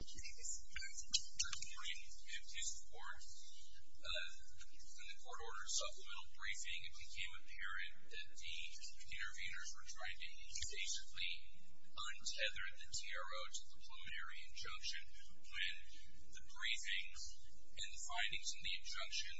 Good morning, I'm Keith Forth. In the court order Supplemental Briefing, it became apparent that the intervenors were trying to basically untether the TRO to the Plumetary Injunction when the briefings and findings in the injunction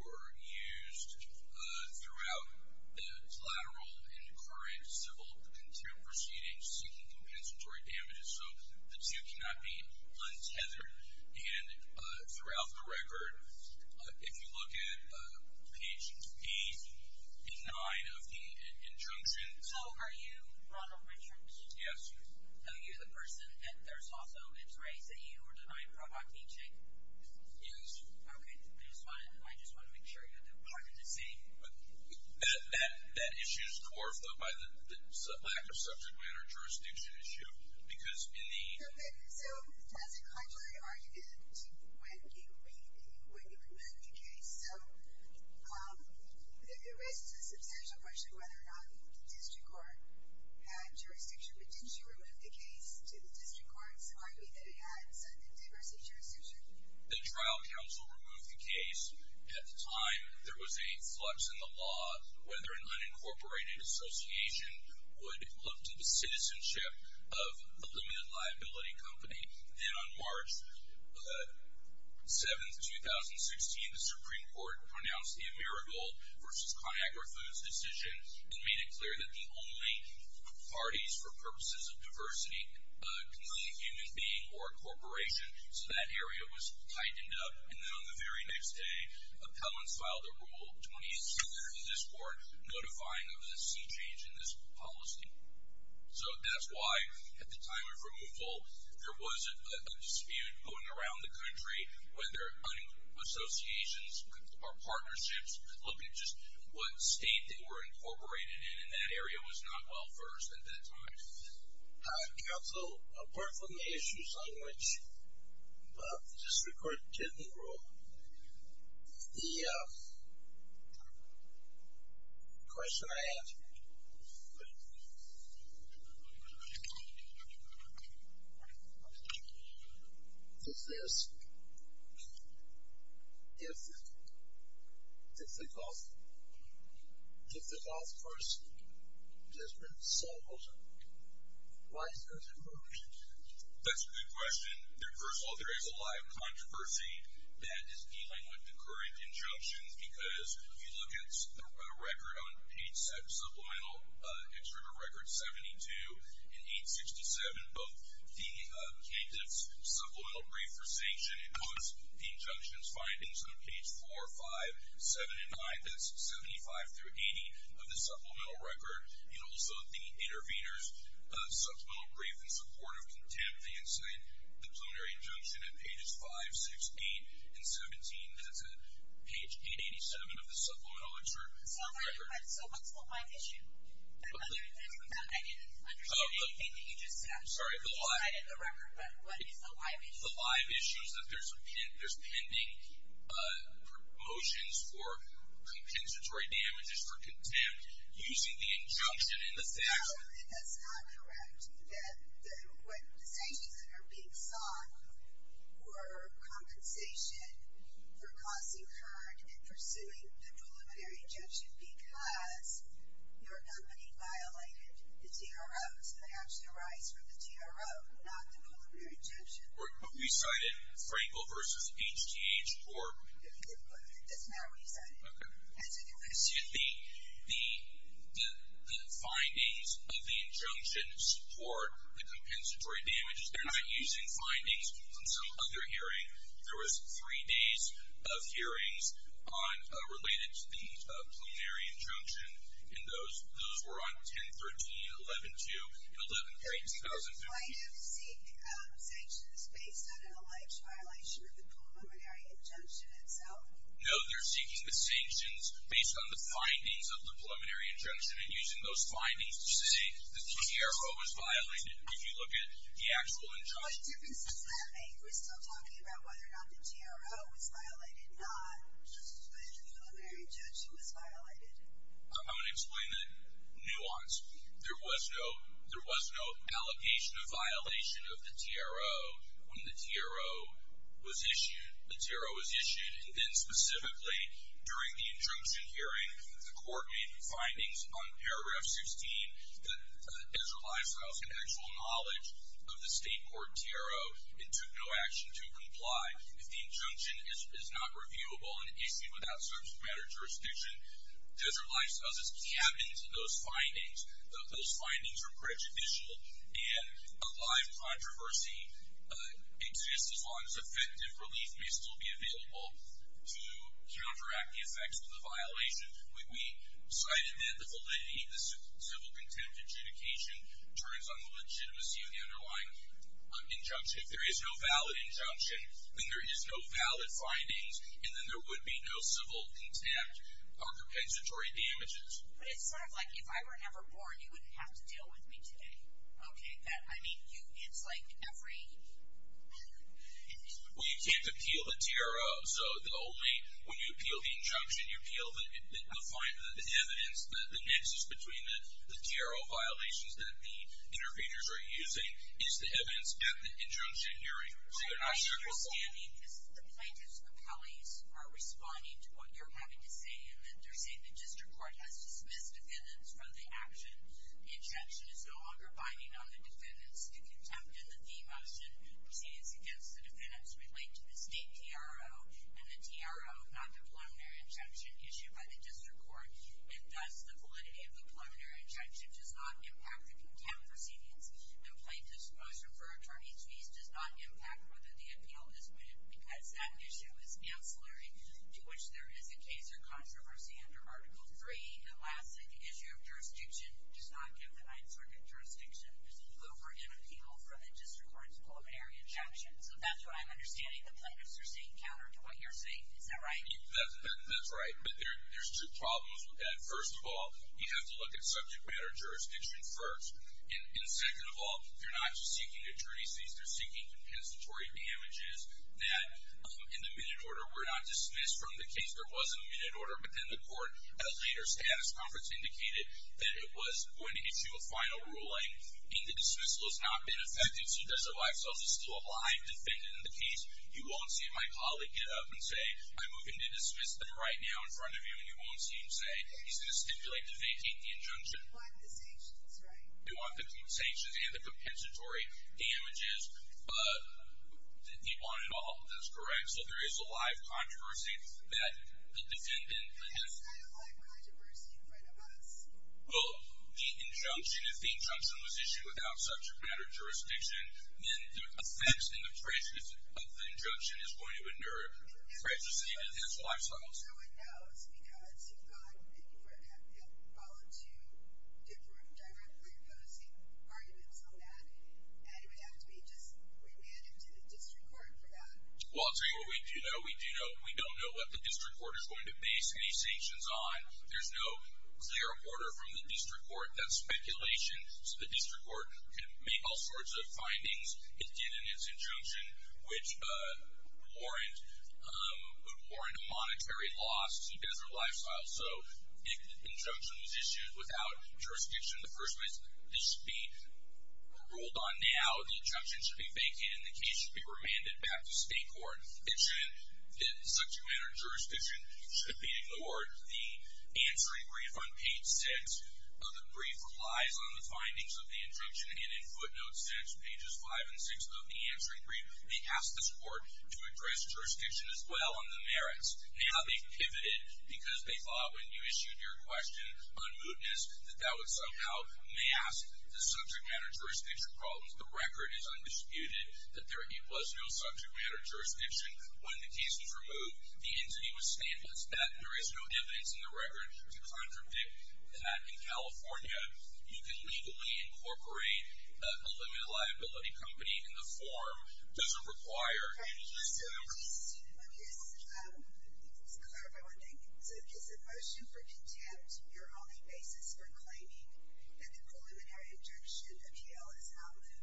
were used throughout the collateral and current civil contempt proceedings seeking compensatory damages. So the two cannot be untethered, and throughout the record, if you look at page 8 and 9 of the injunction... So are you Ronald Richards? Yes. Are you the person at Thurso-Libs, right? So you were denied a Provoctine check? Yes. Okay, I just want to make sure you're clear. That issue is coerced, though, by the lack of subject matter jurisdiction issue, because in the... Okay, so as a contrary argument to when you committed the case, so there raises a substantial question whether or not the district court had jurisdiction, but didn't you remove the case to the district court's argument that it had some diversity of jurisdiction? The trial counsel removed the case at the time there was a flux in the law, whether an unincorporated association would look to the citizenship of a limited liability company. Then on March 7, 2016, the Supreme Court pronounced the Amerigold v. ConAgra Foods decision and made it clear that the only parties for purposes of diversity can be a human being or a corporation, so that area was tightened up. And then on the very next day, appellants filed a Rule 28-600 in this court notifying of the sea change in this policy. So that's why, at the time of removal, there was a dispute going around the country whether associations or partnerships looked at just what state they were incorporated in, and that area was not well-versed at that time. Counsel, apart from the issues on which the district court didn't rule, the question I have for you is this. If the false person has been solved, why is there a separation? That's a good question. First of all, there is a lot of controversy that is dealing with the current injunctions. Because if you look at the record on page 7, Supplemental Extrovert Record 72 and page 67, both the candidate's supplemental brief for sanction includes the injunction's findings on page 4, 5, 7, and 9. That's 75 through 80 of the Supplemental Record. And also the intervener's supplemental brief in support of contempt, the incitement, the preliminary injunction at pages 5, 6, 8, and 17. That's at page 887 of the Supplemental Extrovert Record. So what's the live issue? I didn't understand anything that you just said. I'm sorry. You cited the record, but what is the live issue? The live issue is that there's pending promotions for compensatory damages for contempt using the injunction in the statute. No, that's not correct. The sanctions that are being sought were compensation for causing hurt and pursuing the preliminary injunction because your company violated the TRO. Those actually arise from the TRO, not the preliminary injunction. But we cited Frankel v. HGH for? That's not what we cited. Okay. The findings of the injunction support the compensatory damages. They're not using findings from some other hearing. There was three days of hearings related to the preliminary injunction, and those were on 10-13, 11-2, and 11-3, 2015. So the findings seek sanctions based on an alleged violation of the preliminary injunction itself? No, they're seeking the sanctions based on the findings of the preliminary injunction and using those findings to say that the TRO was violated if you look at the actual injunction. What difference does that make? We're still talking about whether or not the TRO was violated, not just the preliminary injunction was violated. I'm going to explain the nuance. There was no allocation of violation of the TRO when the TRO was issued. The TRO was issued, and then specifically during the injunction hearing, the court made the findings on paragraph 16 that Ezra Leifstrauss had actual knowledge of the state court TRO and took no action to comply. If the injunction is not reviewable and issued without subject matter jurisdiction, Ezra Leifstrauss is captain to those findings. Those findings are prejudicial, and a live controversy exists as long as effective relief may still be available to counteract the effects of the violation. We cited that the validity of the civil contempt adjudication turns on the legitimacy of the underlying injunction. If there is no valid injunction, then there is no valid findings, and then there would be no civil contempt or compensatory damages. But it's sort of like if I were never born, you wouldn't have to deal with me today. Okay, good. I mean, it's like every... Well, you can't appeal the TRO. So the only... When you appeal the injunction, you appeal the findings, the evidence, the nexus between the TRO violations that the interveners are using is the evidence at the injunction hearing. So that I certainly... My understanding is the plaintiffs' appellees are responding to what you're having to say, and they're saying the district court has dismissed defendants from the action. The injunction is no longer binding on the defendants to contempt, and the fee motion proceedings against the defendants relate to the state TRO and the TRO non-preliminary injunction issued by the district court, and thus the validity of the preliminary injunction does not impact the contempt proceedings. The plaintiffs' motion for attorney's fees does not impact whether the appeal is admitted because that issue is ancillary to which there is a case or controversy under Article III. And lastly, the issue of jurisdiction does not give the Ninth Circuit jurisdiction over an appeal from the district court's preliminary injunction. So that's what I'm understanding. The plaintiffs are saying counter to what you're saying. Is that right? That's right. But there's two problems with that. First of all, we have to look at subject matter jurisdiction first. And second of all, they're not just seeking attorney's fees. They're seeking compensatory damages that in the minute order were not dismissed from the case. There was a minute order, but then the court, at a later status conference, indicated that it was going to get you a final ruling, and the dismissal has not been effected. So does it allow us to still have a live defendant in the case? You won't see my colleague get up and say, I'm moving to dismiss them right now in front of you, and you won't see him say, he's going to stipulate to vacate the injunction. You want the sanctions, right? You want the sanctions and the compensatory damages, but you want it all. That's correct. So there is a live controversy that the defendant has. That's not a live controversy in front of us. Well, the injunction, if the injunction was issued without subject matter jurisdiction, then the effects and the traces of the injunction is going to endure for the rest of his life cycle. No one knows because you've gone and you've followed two different, directly opposing arguments on that, and it would have to be just remanded to the district court for that. Well, I'll tell you what we do know. We don't know what the district court is going to base any sanctions on. There's no clear order from the district court. That's speculation. So the district court can make all sorts of findings. It did in its injunction, which would warrant a monetary loss to his or her lifestyle. So if the injunction was issued without jurisdiction in the first place, this should be ruled on now, the injunction should be vacated, and the case should be remanded back to state court. Subject matter jurisdiction should be ignored. The answering brief on page 6 of the brief relies on the findings of the injunction, and in footnotes 6, pages 5 and 6 of the answering brief, they ask the court to address jurisdiction as well on the merits. Now they've pivoted because they thought when you issued your question on mootness that that would somehow mask the subject matter jurisdiction problems. The record is undisputed that there was no subject matter jurisdiction. When the case was removed, the entity was standing that there is no evidence in the record to contradict that in California. You can legally incorporate a limited liability company in the form. It doesn't require any jurisdiction. Okay. So I'm just going to clarify one thing. So is the motion for contempt your only basis for claiming that the preliminary injunction appeal is outlawed?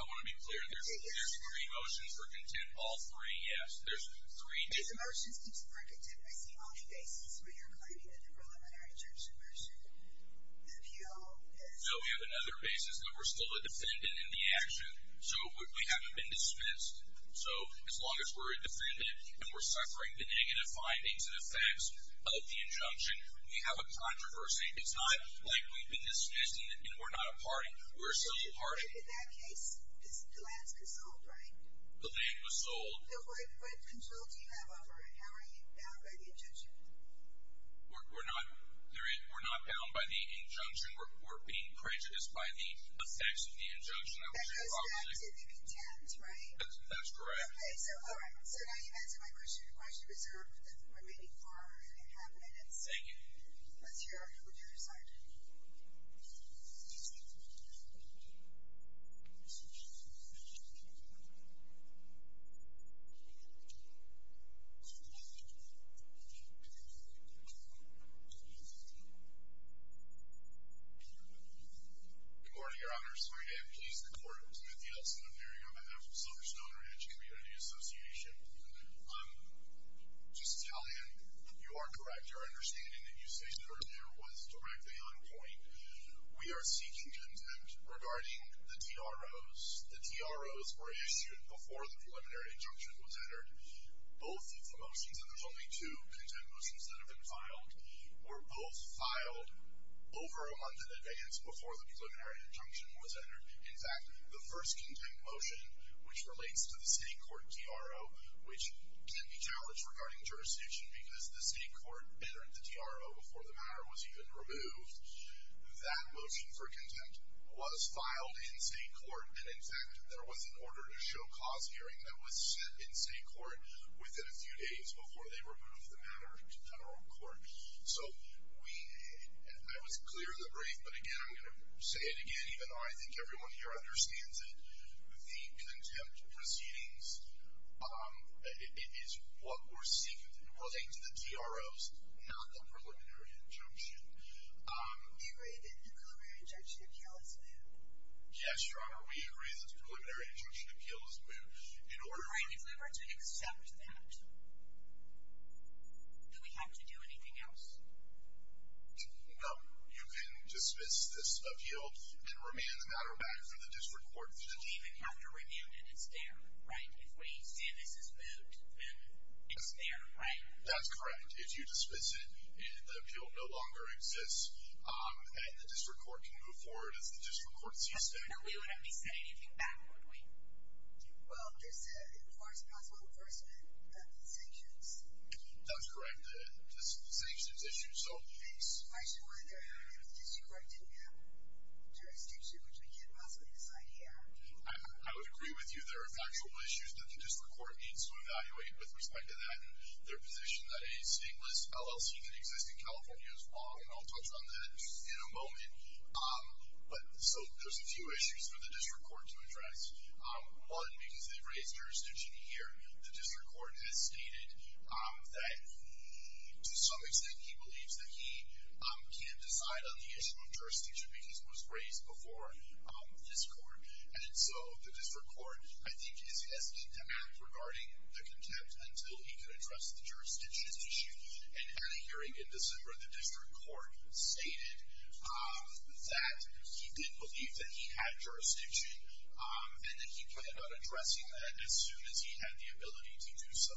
I want to be clear. There's three motions for contempt, all three, yes. There's three. If the motion is for contempt, I see all the bases where you're claiming that the preliminary injunction motion appeal is. So we have another basis that we're still a defendant in the action. So we haven't been dispensed. So as long as we're a defendant and we're suffering the negative findings and effects of the injunction, we have a controversy. It's not like we've been dismissed and we're not a party. We're a civil party. In that case, the land was sold, right? The land was sold. So what control do you have over it? How are you bound by the injunction? We're not bound by the injunction. We're being prejudiced by the effects of the injunction. That goes back to the contempt, right? That's correct. Okay, so all right. So now you've answered my question. The question is reserved for the remaining four and a half minutes. Thank you. Let's hear what you have to say. Good morning, Your Honors. My name is Mark A. I'm pleased to report to the Senate hearing on behalf of Silverstone Ranch Community Association. Just to tell you, you are correct. Our understanding that you stated earlier was directly on point. We are seeking contempt regarding the DROs. The DROs were issued before the preliminary injunction was entered. Both of the motions, and there's only two contempt motions that have been filed, were both filed over a month in advance before the preliminary injunction was entered. In fact, the first contempt motion, which relates to the state court DRO, which can be challenged regarding jurisdiction because the state court entered the DRO before the matter was even removed, that motion for contempt was filed in state court. And, in fact, there was an order to show cause hearing that was set in state court within a few days before they removed the matter to federal court. So, I was clear in the brief, but again, I'm going to say it again, even though I think everyone here understands it. The contempt proceedings is what we're seeking, relating to the DROs, not the preliminary injunction. We agree that the preliminary injunction appeals to them. Yes, Your Honor, we agree that the preliminary injunction appeals to them. In order for us to accept that, do we have to do anything else? No. You can dismiss this appeal and remand the matter back to the district court. We don't even have to remand it. It's there, right? If we say this is moved, then it's there, right? That's correct. If you dismiss it and the appeal no longer exists and the district court can move forward as the district court sees fit. No, we wouldn't be saying anything back, would we? Well, just to enforce possible enforcement of the sanctions. That's correct, the sanctions issue. I just wondered if the district court didn't have jurisdiction, which we can't possibly decide here. I would agree with you there are factual issues that the district court needs to evaluate with respect to that and their position that a stateless LLC can exist in California as well, and I'll touch on that in a moment. But so there's a few issues for the district court to address. One, because they've raised jurisdiction here, the district court has stated that to some extent he believes that he can't decide on the issue of jurisdiction because it was raised before this court. And so the district court, I think, is asking to act regarding the contempt until he can address the jurisdiction issue. And at a hearing in December, the district court stated that he did believe that he had jurisdiction, and that he thought about addressing that as soon as he had the ability to do so.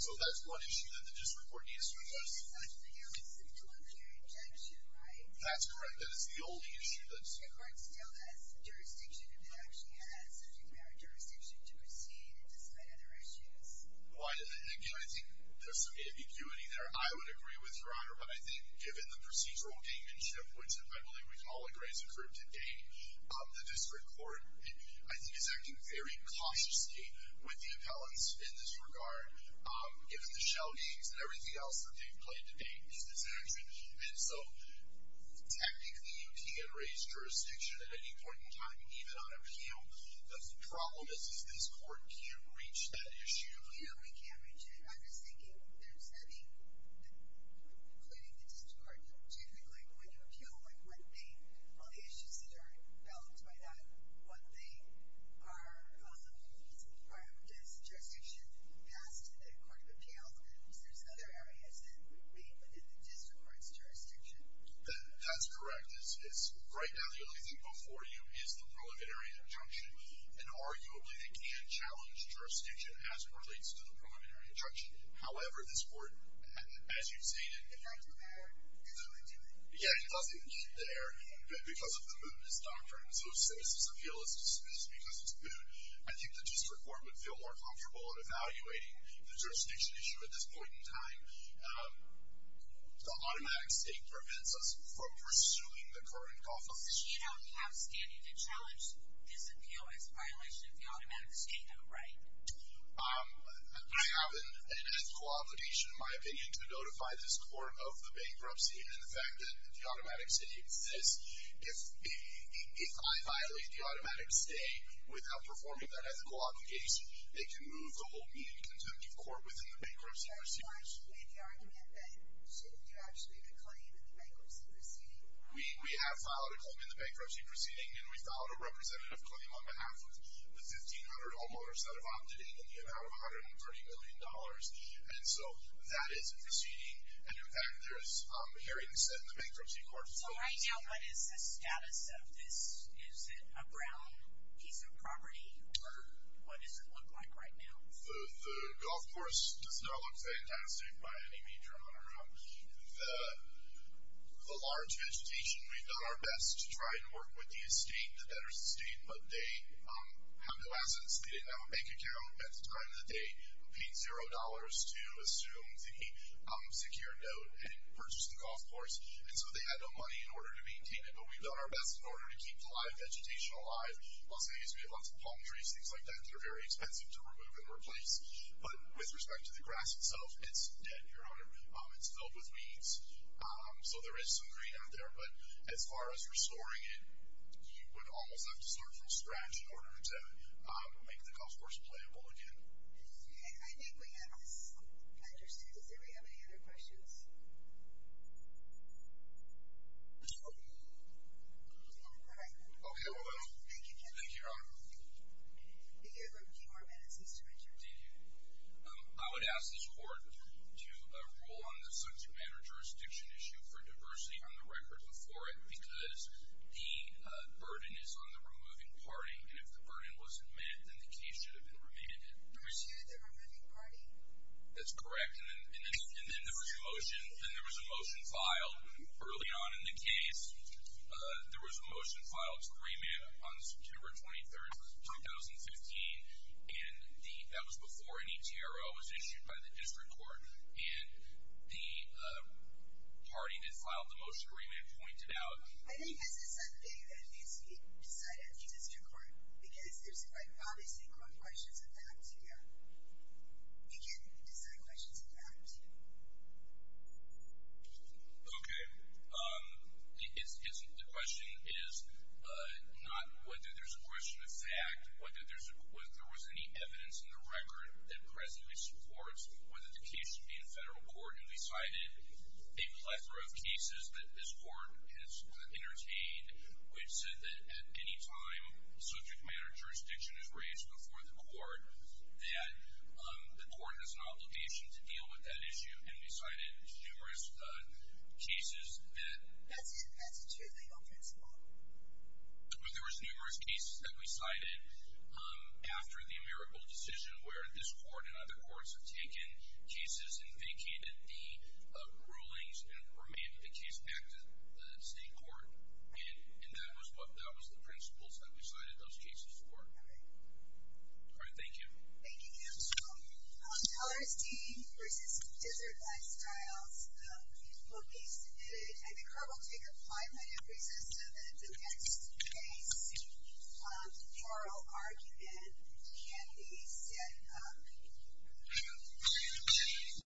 So that's one issue that the district court needs to address. But that's not just a hearing. It's a preliminary objection, right? That's correct. That is the only issue that's... The court still has jurisdiction if it actually has, so she can have jurisdiction to proceed despite other issues. Again, I think there's some ambiguity there. I would agree with Your Honor, but I think given the procedural gamemanship, which I believe we can all agree has occurred today, the district court, I think, is acting very cautiously with the appellants in this regard, given the shell games and everything else that they've played to date in this action. And so technically you can raise jurisdiction at any point in time, even on appeal. The problem is this court can't reach that issue. Yeah, we can't reach it. I'm just thinking if there's any, including the district court, typically when you appeal, like what they, all the issues that are balanced by that, what they are on the rules, prior to this jurisdiction passed to the court of appeals, there's other areas that may be in the district court's jurisdiction. That's correct. Right now, the only thing before you is the preliminary injunction. And arguably they can challenge jurisdiction as it relates to the preliminary injunction. However, this court, as you've stated, It doesn't need to be there. Yeah, it doesn't need to be there because of the mootness doctrine. So if citizens' appeal is dismissed because it's moot, I think the district court would feel more comfortable in evaluating the jurisdiction issue at this point in time. The automatic stay prevents us from pursuing the current golf offense. You don't have standing to challenge this appeal as a violation of the automatic stay though, right? I have an ethical obligation, in my opinion, to notify this court of the bankruptcy and the fact that the automatic stay exists. If I violate the automatic stay without performing that ethical obligation, it can move the whole median contempt of court within the bankruptcy proceedings. There was an argument that you should actually have a claim in the bankruptcy proceeding. We have filed a claim in the bankruptcy proceeding and we filed a representative claim on behalf of the $1,500 all-motor set of opt-in in the amount of $130 million. And so that is a proceeding. And in fact, there is a hearing set in the bankruptcy court. So right now, what is the status of this? Is it a brown piece of property? Or what does it look like right now? The golf course does not look fantastic by any means, your honor. The large vegetation, we've done our best to try and work with the estate, the debtor's estate, but they have no assets. They didn't have a bank account at the time of the day. We paid $0 to assume the secure note and purchase the golf course. And so they had no money in order to maintain it, but we've done our best in order to keep the live vegetation alive. Plus, obviously, we have lots of palm trees, things like that that are very expensive to remove and replace. But with respect to the grass itself, it's dead, your honor. It's filled with weeds. So there is some green out there, but as far as restoring it, you would almost have to start from scratch in order to make the golf course playable again. Okay, I think we have this understood. Does anybody have any other questions? All right. Okay, well then. Thank you, Ken. Thank you, your honor. Did you have a few more minutes, Mr. Richard? Did you? I would ask this court to rule on the subject matter jurisdiction issue for diversity on the record before it because the burden is on the removing party. And if the burden wasn't met, then the case should have been remanded. You pursued the removing party? That's correct. And then there was a motion filed early on in the case. There was a motion filed to remand on September 23rd, 2015, and that was before any TRO was issued by the district court. And the party that filed the motion to remand pointed out. I think this is a thing that needs to be decided at the district court because there's, like, obviously core questions of that, too. You can't decide questions of that, too. Okay. The question is not whether there's a question of fact, whether there was any evidence in the record that presently supports whether the case should be in federal court, and we cited a plethora of cases that this court has entertained. We've said that at any time subject matter jurisdiction is raised before the court that the court has an obligation to deal with that issue, and we cited numerous cases that. That's a true legal principle. But there was numerous cases that we cited after the AmeriCorps decision where this court and other courts have taken cases and vacated the rulings and remanded the case back to the state court, and that was the principles that we cited those cases for. Okay. All right. Thank you. Thank you. Thank you. So, teller's deed versus desert lifestyle will be submitted. I think here we'll take a five-minute recess until the next case. The oral argument can be set up. Thank you.